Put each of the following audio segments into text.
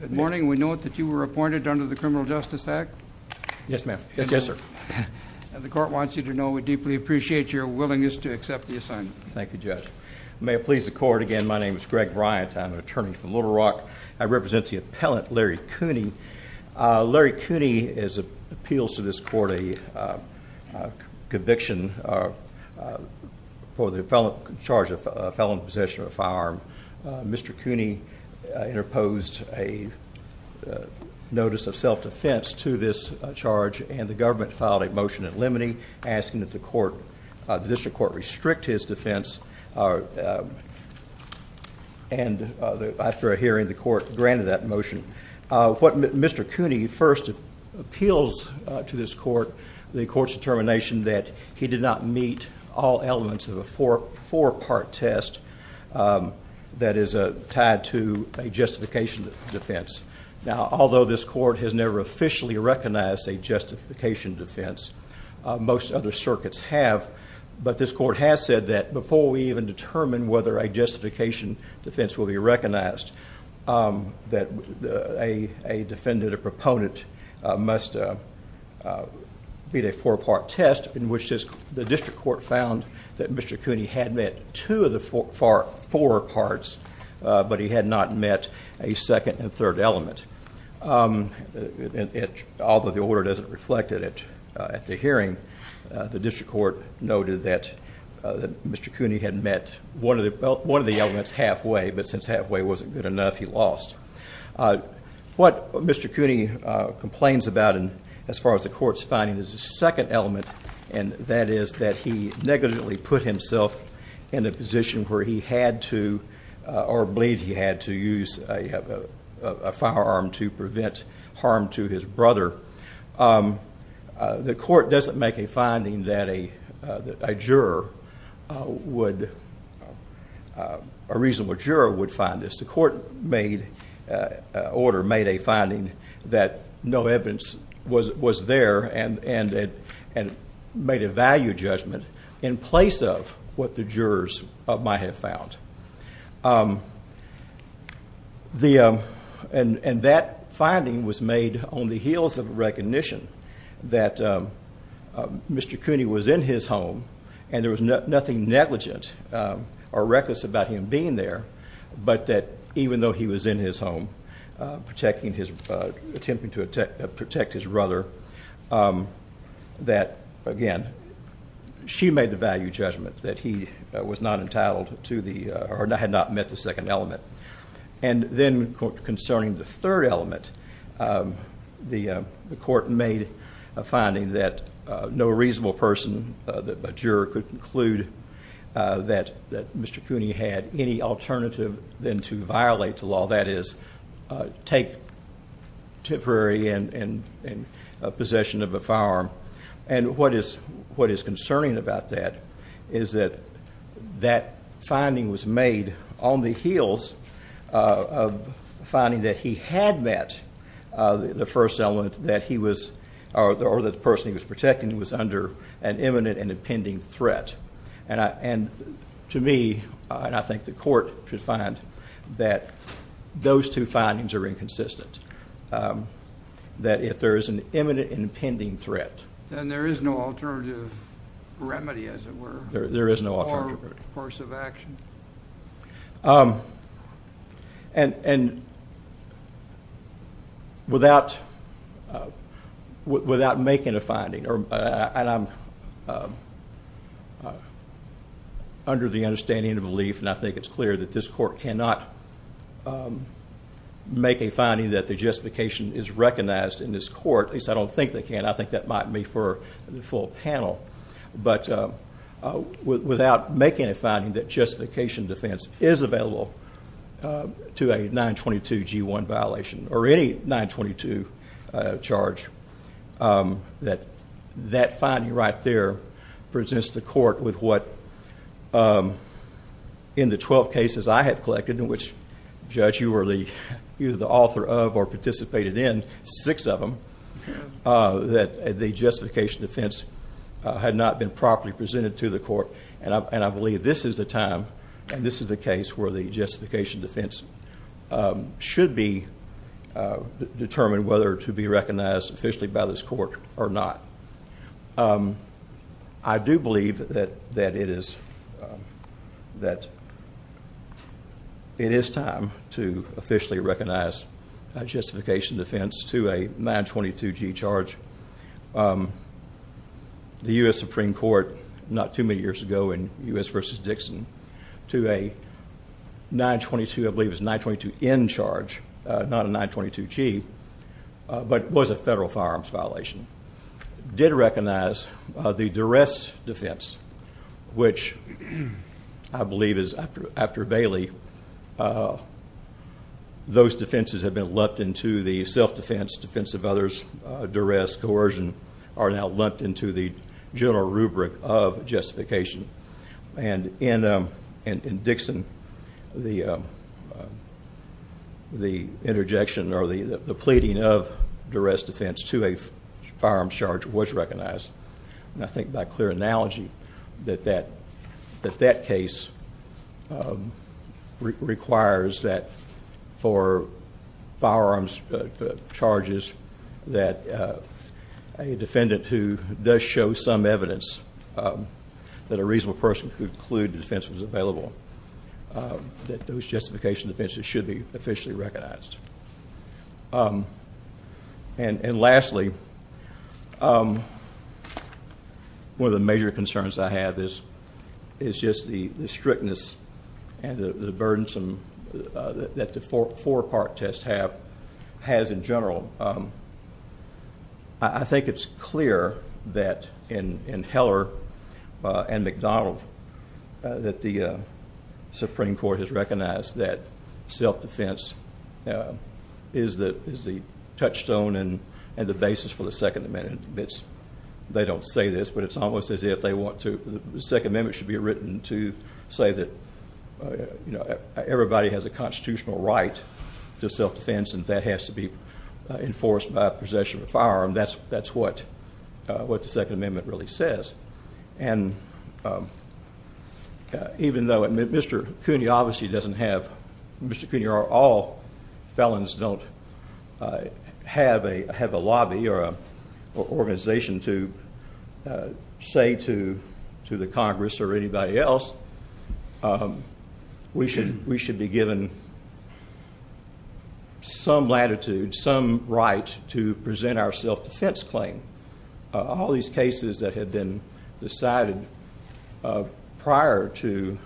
Good morning. We note that you were appointed under the Criminal Justice Act. Yes, ma'am. Yes, sir. The court wants you to know we deeply appreciate your willingness to accept the assignment. Thank you, Judge. May it please the court. Again, my name is Greg Bryant. I'm an attorney from Little Rock. I represent the appellant, Larry Cooney. Larry Cooney appeals to this court a conviction for the charge of felon possession of a firearm. Mr. Cooney interposed a notice of self-defense to this charge and the government filed a motion in limine asking that the court, the district court, restrict his defense and after a hearing the court granted that motion. What Mr. Cooney first appeals to this court, the court's determination that he did not meet all a justification defense. Now, although this court has never officially recognized a justification defense, most other circuits have, but this court has said that before we even determine whether a justification defense will be recognized, that a defendant, a proponent, must beat a four-part test in which the district court found that Mr. Cooney had met two of the four parts, but he had not met a second and third element. Although the order doesn't reflect it at the hearing, the district court noted that Mr. Cooney had met one of the elements halfway, but since halfway wasn't good enough, he lost. What Mr. Cooney complains about, as far as the court's finding, is the second element, and that is that he negatively put himself in a position where he had to, or believed he had to use a firearm to prevent harm to his brother. The court doesn't make a finding that a juror would... A reasonable juror would find this. The court made... Order made a finding that no evidence was there and made a value judgment in place of what the jurors might have found. And that finding was made on the heels of recognition that Mr. Cooney was in his home and there was nothing negligent or reckless about him being there, but that even though he was in his home protecting his... Attempting to protect his brother, that, again, she made the value judgment that he was not entitled to the... Or had not met the second element. And then concerning the third element, the court made a finding that no reasonable person, a juror, could conclude that Mr. Cooney had any alternative than to violate the law, that is, take temporary possession of a firearm. And what is concerning about that is that that finding was made on the heels of finding that he had met the first element that he was... Or that the person he was protecting was under an imminent and impending threat. And to me, and I think the court should find that those two findings are inconsistent, that if there is an imminent and impending threat... Then there is no alternative remedy, as it were. There is no alternative remedy. Or course of action. And without making a finding, and I'm clear of the understanding and belief, and I think it's clear that this court cannot make a finding that the justification is recognized in this court, at least I don't think they can. I think that might be for the full panel. But without making a finding that justification defense is available to a 922 G1 violation, or any 922 charge, that finding right there presents the court with what in the 12 cases I have collected, in which, Judge, you were the author of or participated in, six of them, that the justification defense had not been properly presented to the court. And I believe this is the time, and this is the case where the justification defense should be determined whether to be recognized officially by this court or not. I do believe that it is time to officially recognize a justification defense to a 922 G charge. The US Supreme Court, not too many years ago in US versus Dixon, to a 922, I believe it was 922 N charge, not a 922 G, but was a federal firearms violation. Did recognize the duress defense, which I believe is after Bailey, those defenses have been lumped into the self defense, defense of others, duress, coercion, are now lumped into the general rubric of justification. And in Dixon, the interjection or the pleading of duress defense to a clear analogy that that case requires that for firearms charges that a defendant who does show some evidence that a reasonable person could conclude the defense was available, that those justification defenses should be officially recognized. And lastly, one of the major concerns I have is just the strictness and the burdensome that the four part test has in general. I think it's clear that in Heller and McDonald that the Supreme Court has a basis for the Second Amendment. They don't say this, but it's almost as if they want to... The Second Amendment should be written to say that everybody has a constitutional right to self defense and that has to be enforced by possession of a firearm. That's what the Second Amendment really says. And even though Mr. Cooney obviously doesn't have... Mr. Cooney or all his organization to say to the Congress or anybody else, we should be given some latitude, some right to present our self defense claim. All these cases that had been decided prior to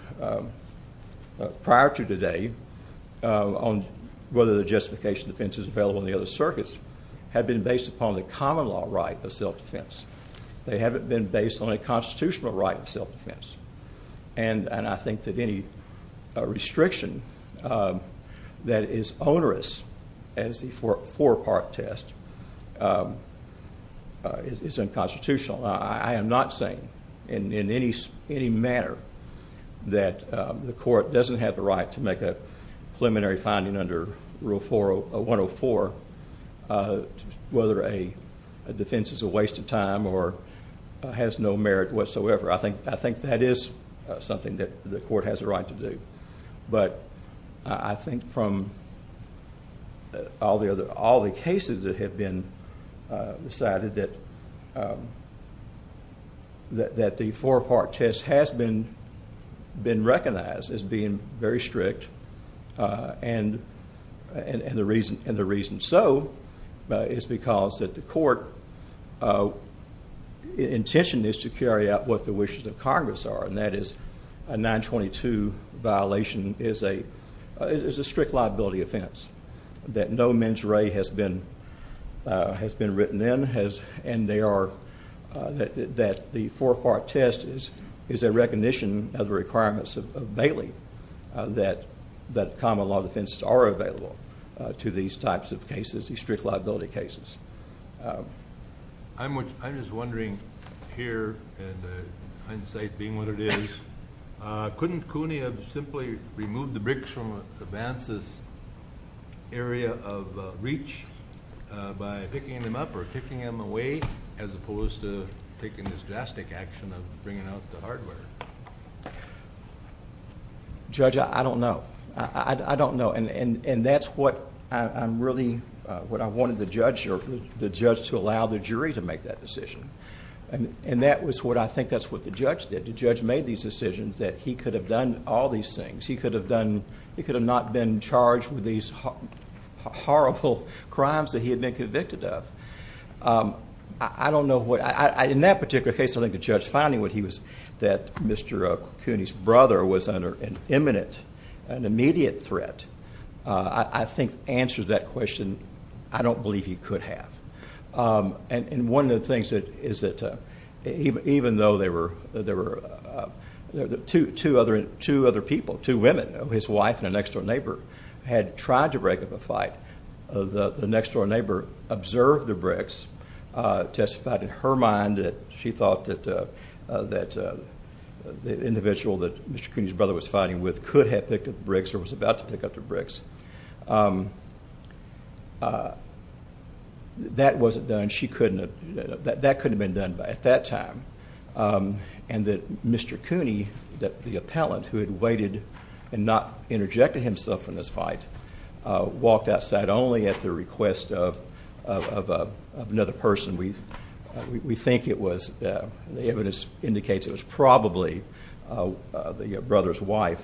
today on whether the justification defense is available in the circuits had been based upon the common law right of self defense. They haven't been based on a constitutional right of self defense. And I think that any restriction that is onerous as the four part test is unconstitutional. I am not saying in any manner that the court doesn't have the right to make a preliminary finding under Rule 104 whether a defense is a waste of time or has no merit whatsoever. I think that is something that the court has a right to do. But I think from all the cases that have been decided that the four part test has been recognized as being very strict. And the reason so is because the court intention is to carry out what the wishes of Congress are. And that is a 922 violation is a strict liability offense that no that the four part test is a recognition of the requirements of Bailey that common law defenses are available to these types of cases, these strict liability cases. I'm just wondering here, and hindsight being what it is, couldn't CUNY have simply removed the bricks from advances area of reach by picking them up or kicking them away as opposed to taking this drastic action of bringing out the hardware? Judge, I don't know. I don't know. And that's what I'm really what I wanted the judge or the judge to allow the jury to make that decision. And that was what I think that's what the judge did. The judge made these decisions that he could have done all these things. He could have done. He could have not been charged with these horrible crimes that he had been convicted of. I don't know what I in that particular case. I think the judge finding what he was that Mr CUNY's brother was under an imminent and immediate threat, I think answers that question. I don't believe he could have. Um, and one of the things that is that even though they were, there were two other two women, his wife and an extra neighbor had tried to break up a fight. The next door neighbor observed the bricks, uh, testified in her mind that she thought that, uh, that, uh, the individual that Mr CUNY's brother was fighting with could have picked up bricks or was about to pick up the bricks. Um, uh, that wasn't done. She couldn't. That couldn't been done at that time. Um, and that Mr CUNY, that the appellant who had waited and not interjected himself in this fight, uh, walked outside only at the request of, of, uh, of another person. We, we think it was, uh, the evidence indicates it was probably, uh, uh, the brother's wife,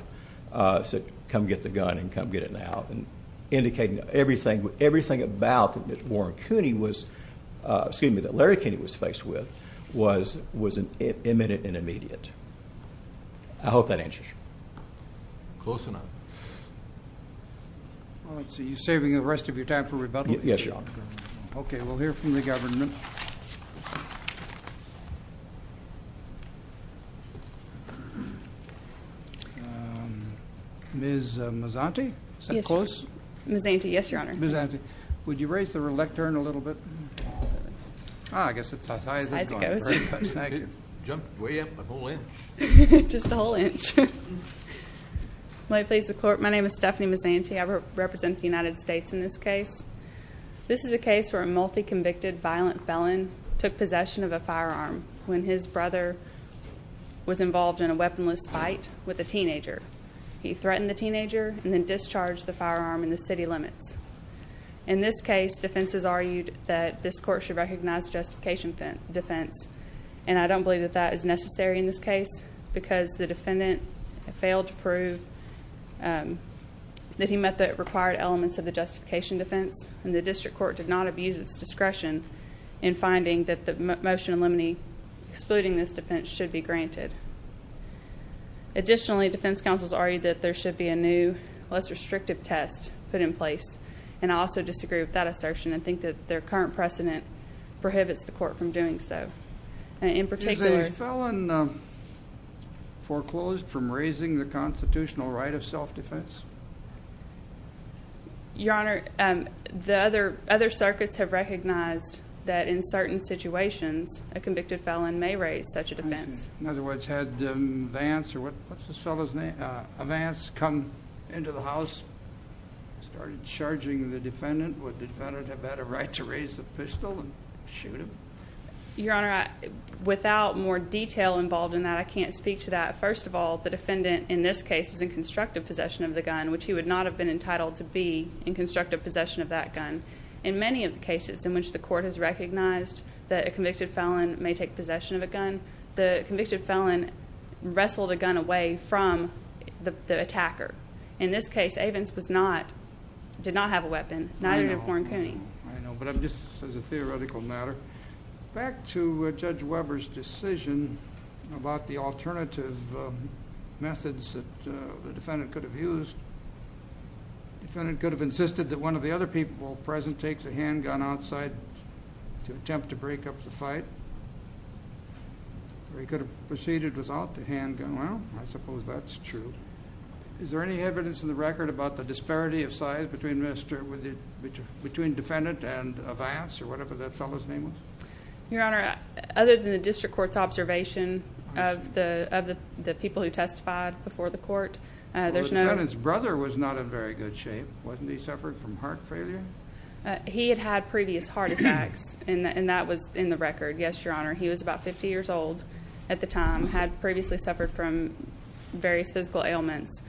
uh, said, come get the gun and come get it now. And indicating everything, everything about Warren CUNY was, uh, excuse me, that Larry CUNY was faced with was, was an imminent and immediate. I hope that answers you. Close enough. Well, let's see. You saving the rest of your time for rebuttal? Yes, Your Honor. Okay. We'll hear from the government. Ms. Mazanti? Is that close? Ms. Mazanti, yes, Your Honor. Ms. Mazanti, would you raise the lectern a little bit? Ah, I guess it's as high as it goes. Jumped way up a whole inch. Just a whole inch. My name is Stephanie Mazanti. I represent the United States in this case. This is a case where a multi convicted violent felon took possession of a firearm when his brother was involved in a weaponless fight with a teenager. He threatened the teenager and then discharged the firearm in the city limits. In this case, defenses argued that this court should recognize justification defense. And I don't believe that that is necessary in this case because the defendant failed to prove that he met the required elements of the justification defense. And the district court did not abuse its discretion in finding that the motion eliminating, excluding this defense should be granted. Additionally, defense counsels argued that there should be a new, less restrictive test put in place. And I also disagree with that assertion and I think that their current precedent prohibits the court from doing so. Is this felon foreclosed from raising the constitutional right of self-defense? Your Honor, the other circuits have recognized that in certain situations a convicted felon may raise such a defense. In other words, had Vance, or what's this fellow's name, Vance come into the house, started charging the right to raise the pistol and shoot him? Your Honor, without more detail involved in that, I can't speak to that. First of all, the defendant in this case was in constructive possession of the gun, which he would not have been entitled to be in constructive possession of that gun. In many of the cases in which the court has recognized that a convicted felon may take possession of a gun, the convicted felon wrestled a gun away from the attacker. In this case, Evans was not, did not have a weapon, not even a gun, but just as a theoretical matter. Back to Judge Weber's decision about the alternative methods that the defendant could have used. The defendant could have insisted that one of the other people present take the handgun outside to attempt to break up the fight, or he could have proceeded without the handgun. Well, I suppose that's true. Is there any evidence in the record about the disparity of size between defendant and Vance, or whatever that fellow's name was? Your Honor, other than the district court's observation of the people who testified before the court, there's no... Well, the defendant's brother was not in very good shape, wasn't he? Suffered from heart failure? He had had previous heart attacks, and that was in the record. Yes, Your Honor. He was about 50 years old at the time, had previously suffered from various physical ailments.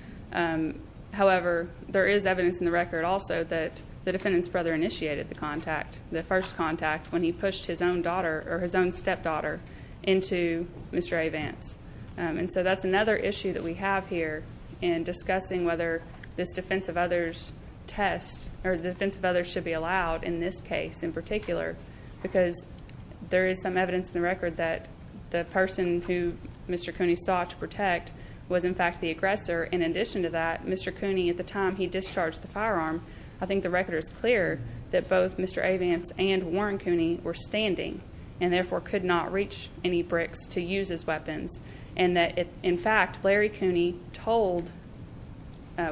However, there is evidence in the record also that the defendant's brother initiated the contact, the first contact, when he pushed his own daughter, or his own stepdaughter, into Mr. A. Vance. And so that's another issue that we have here in discussing whether this defense of others test, or the defense of others should be allowed in this case in particular, because there is some evidence in the record that the person who Mr. Cooney sought to protect was, in fact, the aggressor. In addition to that, Mr. Cooney, at the time he discharged the firearm, I think the record is clear that both Mr. A. Vance and Warren Cooney were standing, and therefore could not reach any bricks to use his weapons. And that, in fact, Larry Cooney told...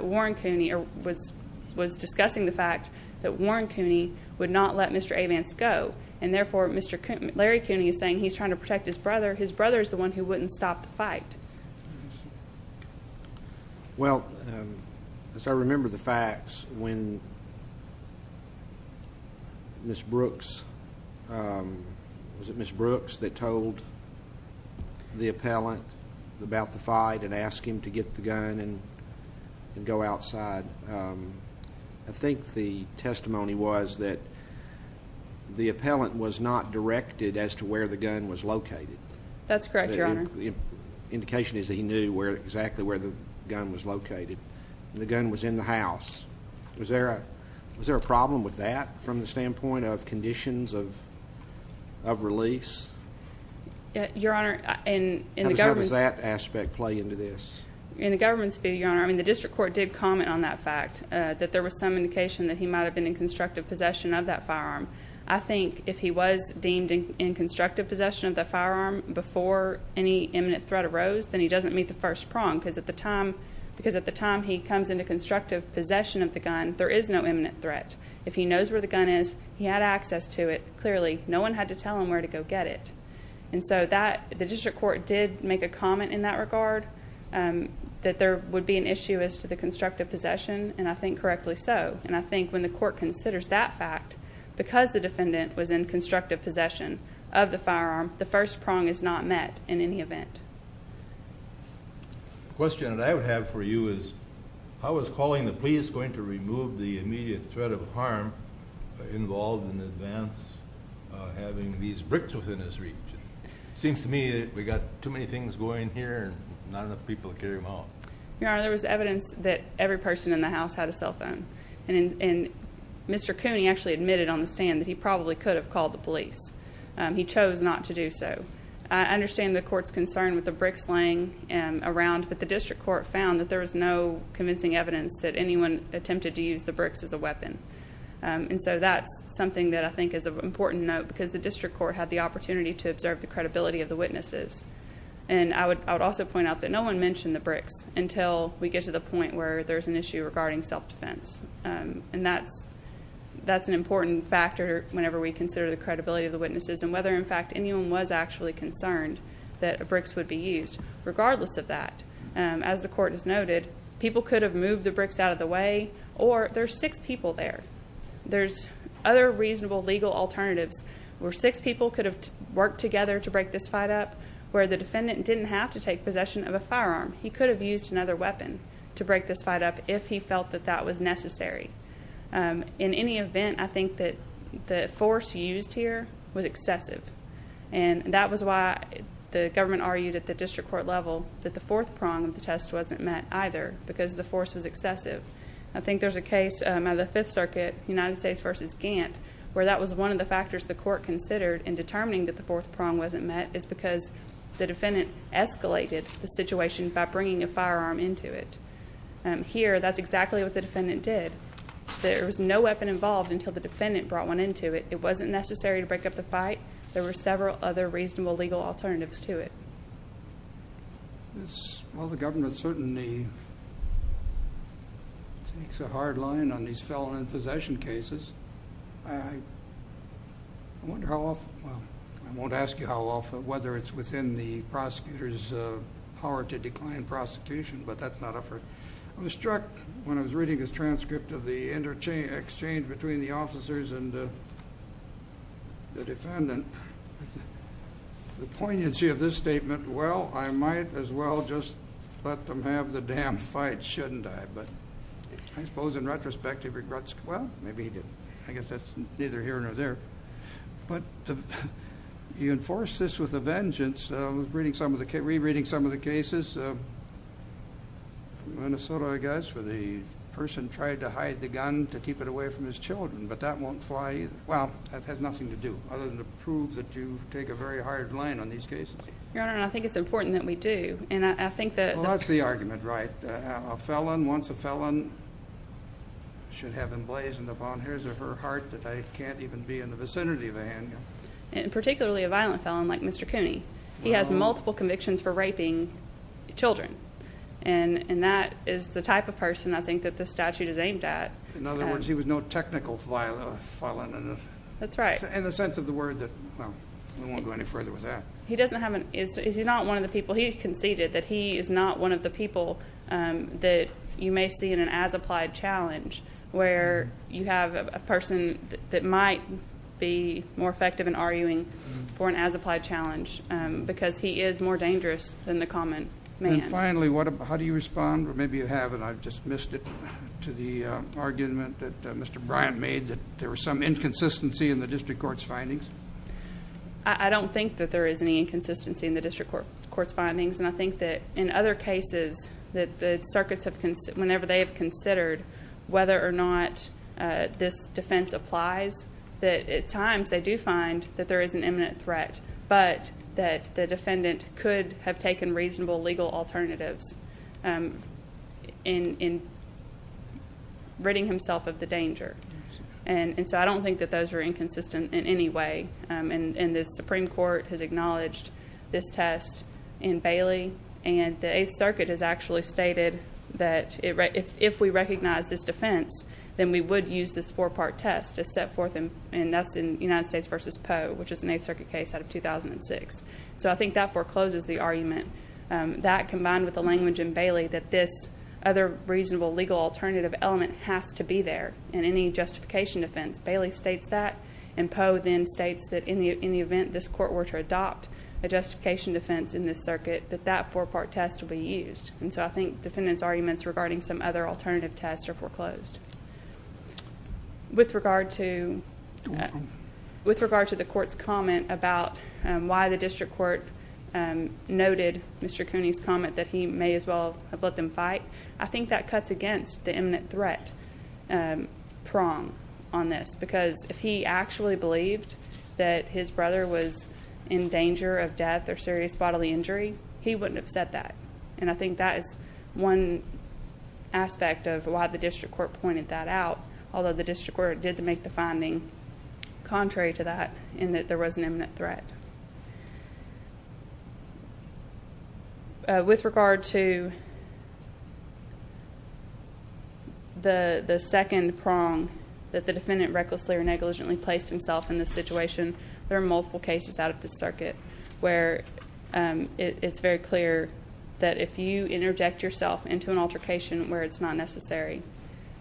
Warren Cooney was discussing the fact that Warren Cooney would not let Mr. A. Vance go. And therefore, Larry Cooney is saying he's trying to protect his brother. His brother is the one who wouldn't stop the fight. Well, as I remember the facts, when Ms. Brooks... Was it Ms. Brooks that told the appellant about the fight and asked him to get the gun and go outside? I think the testimony was that the appellant was not directed as to where the gun was located. That's correct, Your Honor. The indication is that he knew exactly where the gun was located. The gun was in the house. Was there a problem with that from the standpoint of conditions of release? Your Honor, in the government's... How does that aspect play into this? In the government's view, Your Honor, I mean, the district court did comment on that fact, that there was some indication that he might have been in constructive possession of that firearm. I think if he was deemed in constructive possession of the firearm before any imminent threat arose, then he doesn't meet the first prong, because at the time he comes into constructive possession of the gun, there is no imminent threat. If he knows where the gun is, he had access to it. Clearly, no one had to tell him where to go get it. And so the district court did make a comment in that regard, that there would be an issue as to the constructive possession, and I think correctly so. And I think when the court considers that fact, because the defendant was in constructive possession of the firearm, the first prong is not met in any event. The question that I would have for you is, how is calling the police going to remove the immediate threat of harm involved in advance having these bricks within his reach? It seems to me that we got too many things going here and not enough people to carry them out. Your Honor, there was evidence that every person in the house had a Mr. Cooney actually admitted on the stand that he probably could have called the police. He chose not to do so. I understand the court's concern with the bricks laying around, but the district court found that there was no convincing evidence that anyone attempted to use the bricks as a weapon. And so that's something that I think is of important note, because the district court had the opportunity to observe the credibility of the witnesses. And I would also point out that no one mentioned the bricks until we get to the point where there's an issue regarding self-defense. And that's an important factor whenever we consider the credibility of the witnesses and whether, in fact, anyone was actually concerned that bricks would be used. Regardless of that, as the court has noted, people could have moved the bricks out of the way, or there's six people there. There's other reasonable legal alternatives where six people could have worked together to break this fight up, where the defendant didn't have to take possession of a firearm. He could have used another weapon to break this fight up if he felt that that was necessary. In any event, I think that the force used here was excessive. And that was why the government argued at the district court level that the fourth prong of the test wasn't met either, because the force was excessive. I think there's a case out of the Fifth Circuit, United States v. Gantt, where that was one of the factors the court considered in determining that the fourth prong wasn't met is because the firearm into it. Here, that's exactly what the defendant did. There was no weapon involved until the defendant brought one into it. It wasn't necessary to break up the fight. There were several other reasonable legal alternatives to it. Well, the government certainly takes a hard line on these felon in possession cases. I wonder how often, well, I won't ask you how often, whether it's within the prosecutor's power to decline prosecution, but that's not a first. I was struck when I was reading this transcript of the exchange between the officers and the defendant, the poignancy of this statement, well, I might as well just let them have the damn fight, shouldn't I? But I suppose in retrospect, he regrets, well, maybe he didn't. I guess that's neither here nor there. But you enforce this with vengeance. I was reading some of the cases, re-reading some of the cases. Minnesota, I guess, where the person tried to hide the gun to keep it away from his children, but that won't fly either. Well, that has nothing to do other than to prove that you take a very hard line on these cases. Your Honor, I think it's important that we do. And I think that... Well, that's the argument, right? A felon wants a felon, should have emblazoned upon his or her heart that I can't even be in the community. He has multiple convictions for raping children. And that is the type of person, I think, that this statute is aimed at. In other words, he was no technical felon. That's right. In the sense of the word that... Well, we won't go any further with that. He doesn't have an... Is he not one of the people... He conceded that he is not one of the people that you may see in an as-applied challenge, where you have a person that might be more as-applied challenge, because he is more dangerous than the common man. And finally, how do you respond? Or maybe you have, and I've just missed it to the argument that Mr. Bryant made, that there was some inconsistency in the district court's findings. I don't think that there is any inconsistency in the district court's findings. And I think that in other cases, that the circuits have... Whenever they have considered whether or not this defense applies, that at times, they do find that there is an imminent threat, but that the defendant could have taken reasonable legal alternatives in ridding himself of the danger. And so I don't think that those are inconsistent in any way. And the Supreme Court has acknowledged this test in Bailey, and the Eighth Circuit has actually stated that if we recognize this defense, then we would use this four-part test to set forth... And that's in United States v. Poe, which is an Eighth Circuit case out of 2006. So I think that forecloses the argument. That, combined with the language in Bailey, that this other reasonable legal alternative element has to be there in any justification defense. Bailey states that, and Poe then states that in the event this court were to adopt a justification defense in this circuit, that that four-part test will be used. And so I think defendants' arguments regarding some other alternative tests are foreclosed. With regard to... With regard to the court's comment about why the district court noted Mr. Cooney's comment that he may as well have let them fight, I think that cuts against the imminent threat prong on this. Because if he actually believed that his brother was in danger of death or serious bodily injury, he wouldn't have said that. And I think that is one aspect of why the district court pointed that out. Although the district court did make the finding contrary to that, in that there was an imminent threat. With regard to the second prong that the defendant recklessly or negligently placed himself in this situation, there are multiple cases out of this circuit where it's very clear that if you interject yourself into an altercation where it's not necessary,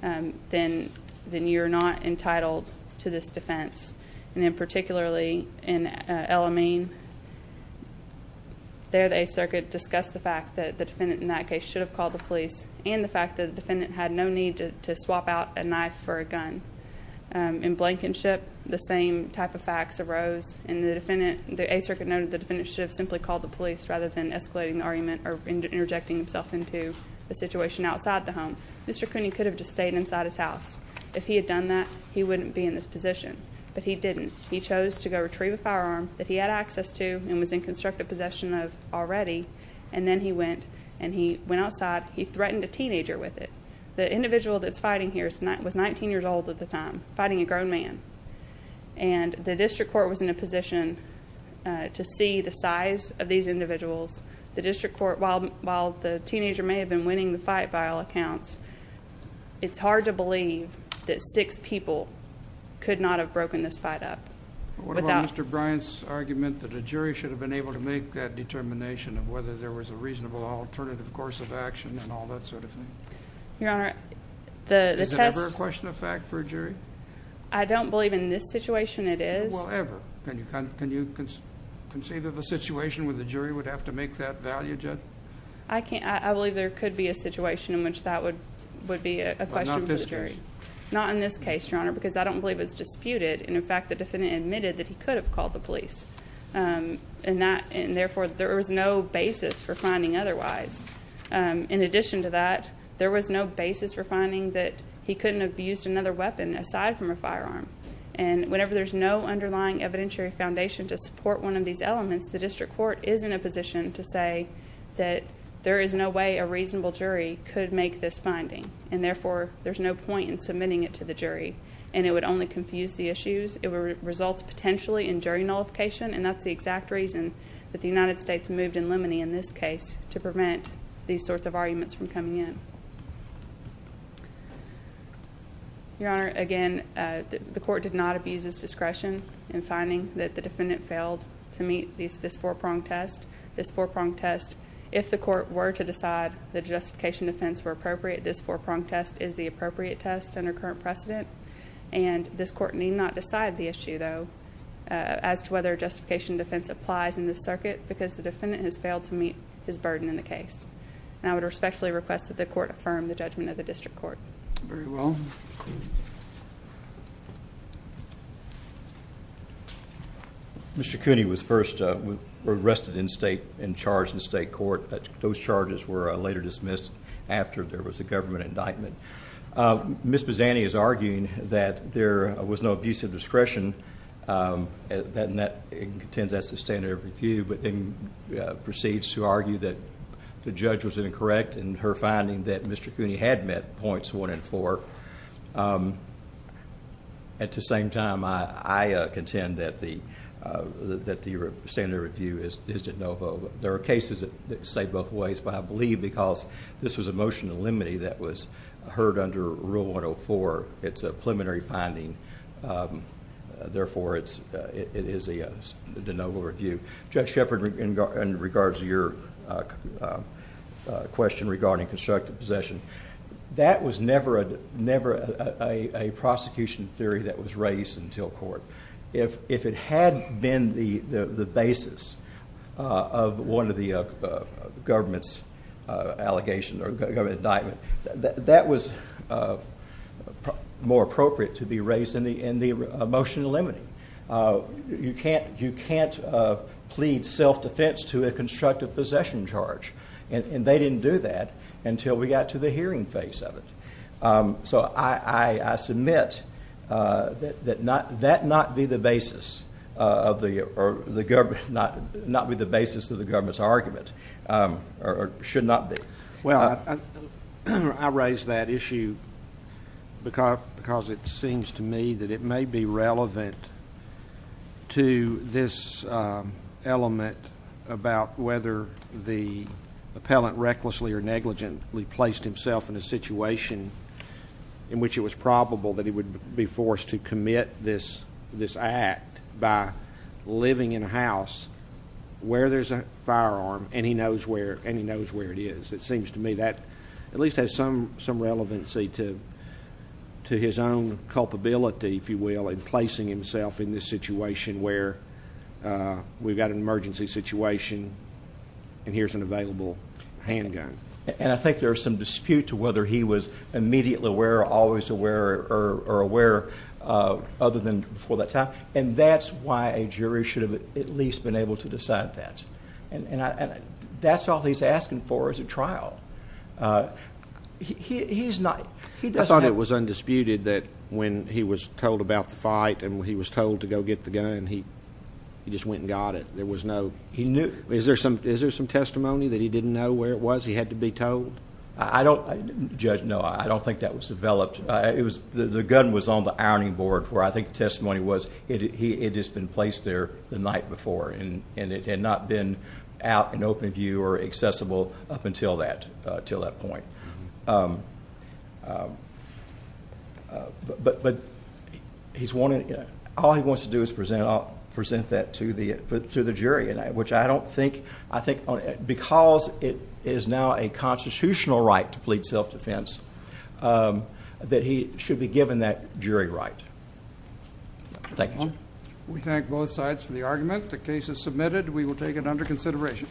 then you're not entitled to this defense. And then particularly in El Amin, there the Eighth Circuit discussed the fact that the defendant in that case should have called the police and the fact that the defendant had no need to swap out a knife for a gun. In Blankenship, the same type of facts arose and the Eighth Circuit noted the defendant should have simply called the police rather than escalating the argument or interjecting himself into the situation outside the home. Mr. Cooney could have just stayed inside his house. If he had done that, he wouldn't be in this position. But he didn't. He chose to go retrieve a firearm that he had access to and was in constructive possession of already. And then he went and he went outside. He threatened a teenager with it. The individual that's fighting here was 19 years old at the time, fighting a grown man. And the district court was in a position to see the size of these individuals. The district court, while the teenager may have been winning the fight by all accounts, it's hard to believe that six people could not have broken this fight up. What about Mr. Bryant's argument that a jury should have been able to make that determination of whether there was a reasonable alternative course of action and all that sort of thing? Your Honor, the test question of fact for a jury? I don't believe in this situation it is. Well, ever. Can you can you conceive of a situation where the jury would have to make that value judge? I can't. I believe there could be a situation in which that would would be a question for the jury. Not in this case, Your Honor, because I don't believe it's disputed. And in fact, the defendant admitted that he could have called the police. Um, and that and no basis for finding otherwise. In addition to that, there was no basis for finding that he couldn't have used another weapon aside from a firearm. And whenever there's no underlying evidentiary foundation to support one of these elements, the district court is in a position to say that there is no way a reasonable jury could make this finding. And therefore, there's no point in submitting it to the jury, and it would only confuse the issues. It would result potentially in jury nullification. And that's the exact reason that the United States moved in limine in this case to prevent these sorts of arguments from coming in. Your Honor. Again, the court did not abuse his discretion in finding that the defendant failed to meet these this four prong test this four prong test. If the court were to decide the justification defense were appropriate, this four prong test is the appropriate test under current precedent. And this court need not decide the issue, though, as to whether justification defense applies in the circuit because the defendant has failed to meet his burden in the case. And I would respectfully request that the court affirm the judgment of the district court. Very well. Mr. Cooney was first arrested in state and charged in state court. Those charges were later dismissed after there was a government indictment. Miss Bazzani is arguing that there was no abuse of precedes to argue that the judge was incorrect in her finding that Mr. Cooney had met points one and four. At the same time, I contend that the standard review is de novo. There are cases that say both ways, but I believe because this was a motion to limine that was heard under rule 104. It's a preliminary finding. Therefore, it is a de novo review. Judge Shepard in regards to your question regarding constructive possession, that was never a prosecution theory that was raised until court. If it had been the basis of one of the government's allegations or government indictment, that was more appropriate to be raised in the motion limiting. You can't plead self-defense to a constructive possession charge and they didn't do that until we got to the hearing phase of it. So I submit that not be the basis of the government's argument or should not be. Well, I raised that issue because it seems to me that it may be relevant to this element about whether the appellant recklessly or negligently placed himself in a situation in which it was probable that he would be forced to commit this act by living in a house where there's a firearm and he knows where it is. It seems to me that at least has some relevancy to his own culpability, if he's placing himself in this situation where we've got an emergency situation and here's an available handgun. And I think there's some dispute to whether he was immediately aware or always aware or aware other than before that time. And that's why a jury should have at least been able to decide that. And that's all he's asking for as a trial. I thought it was undisputed that when he was told about the gun, when he was told to go get the gun, he just went and got it. There was no... Is there some testimony that he didn't know where it was? He had to be told? I don't... Judge, no, I don't think that was developed. The gun was on the ironing board where I think the testimony was. It has been placed there the night before and it had not been out in open view or accessible up until that point. But he's wanting... All he wants to do is present, I'll present that to the jury. And I, which I don't think, I think because it is now a constitutional right to plead self defense, that he should be given that jury right. Thank you. We thank both sides for the argument. The case is submitted. We will take it under consideration.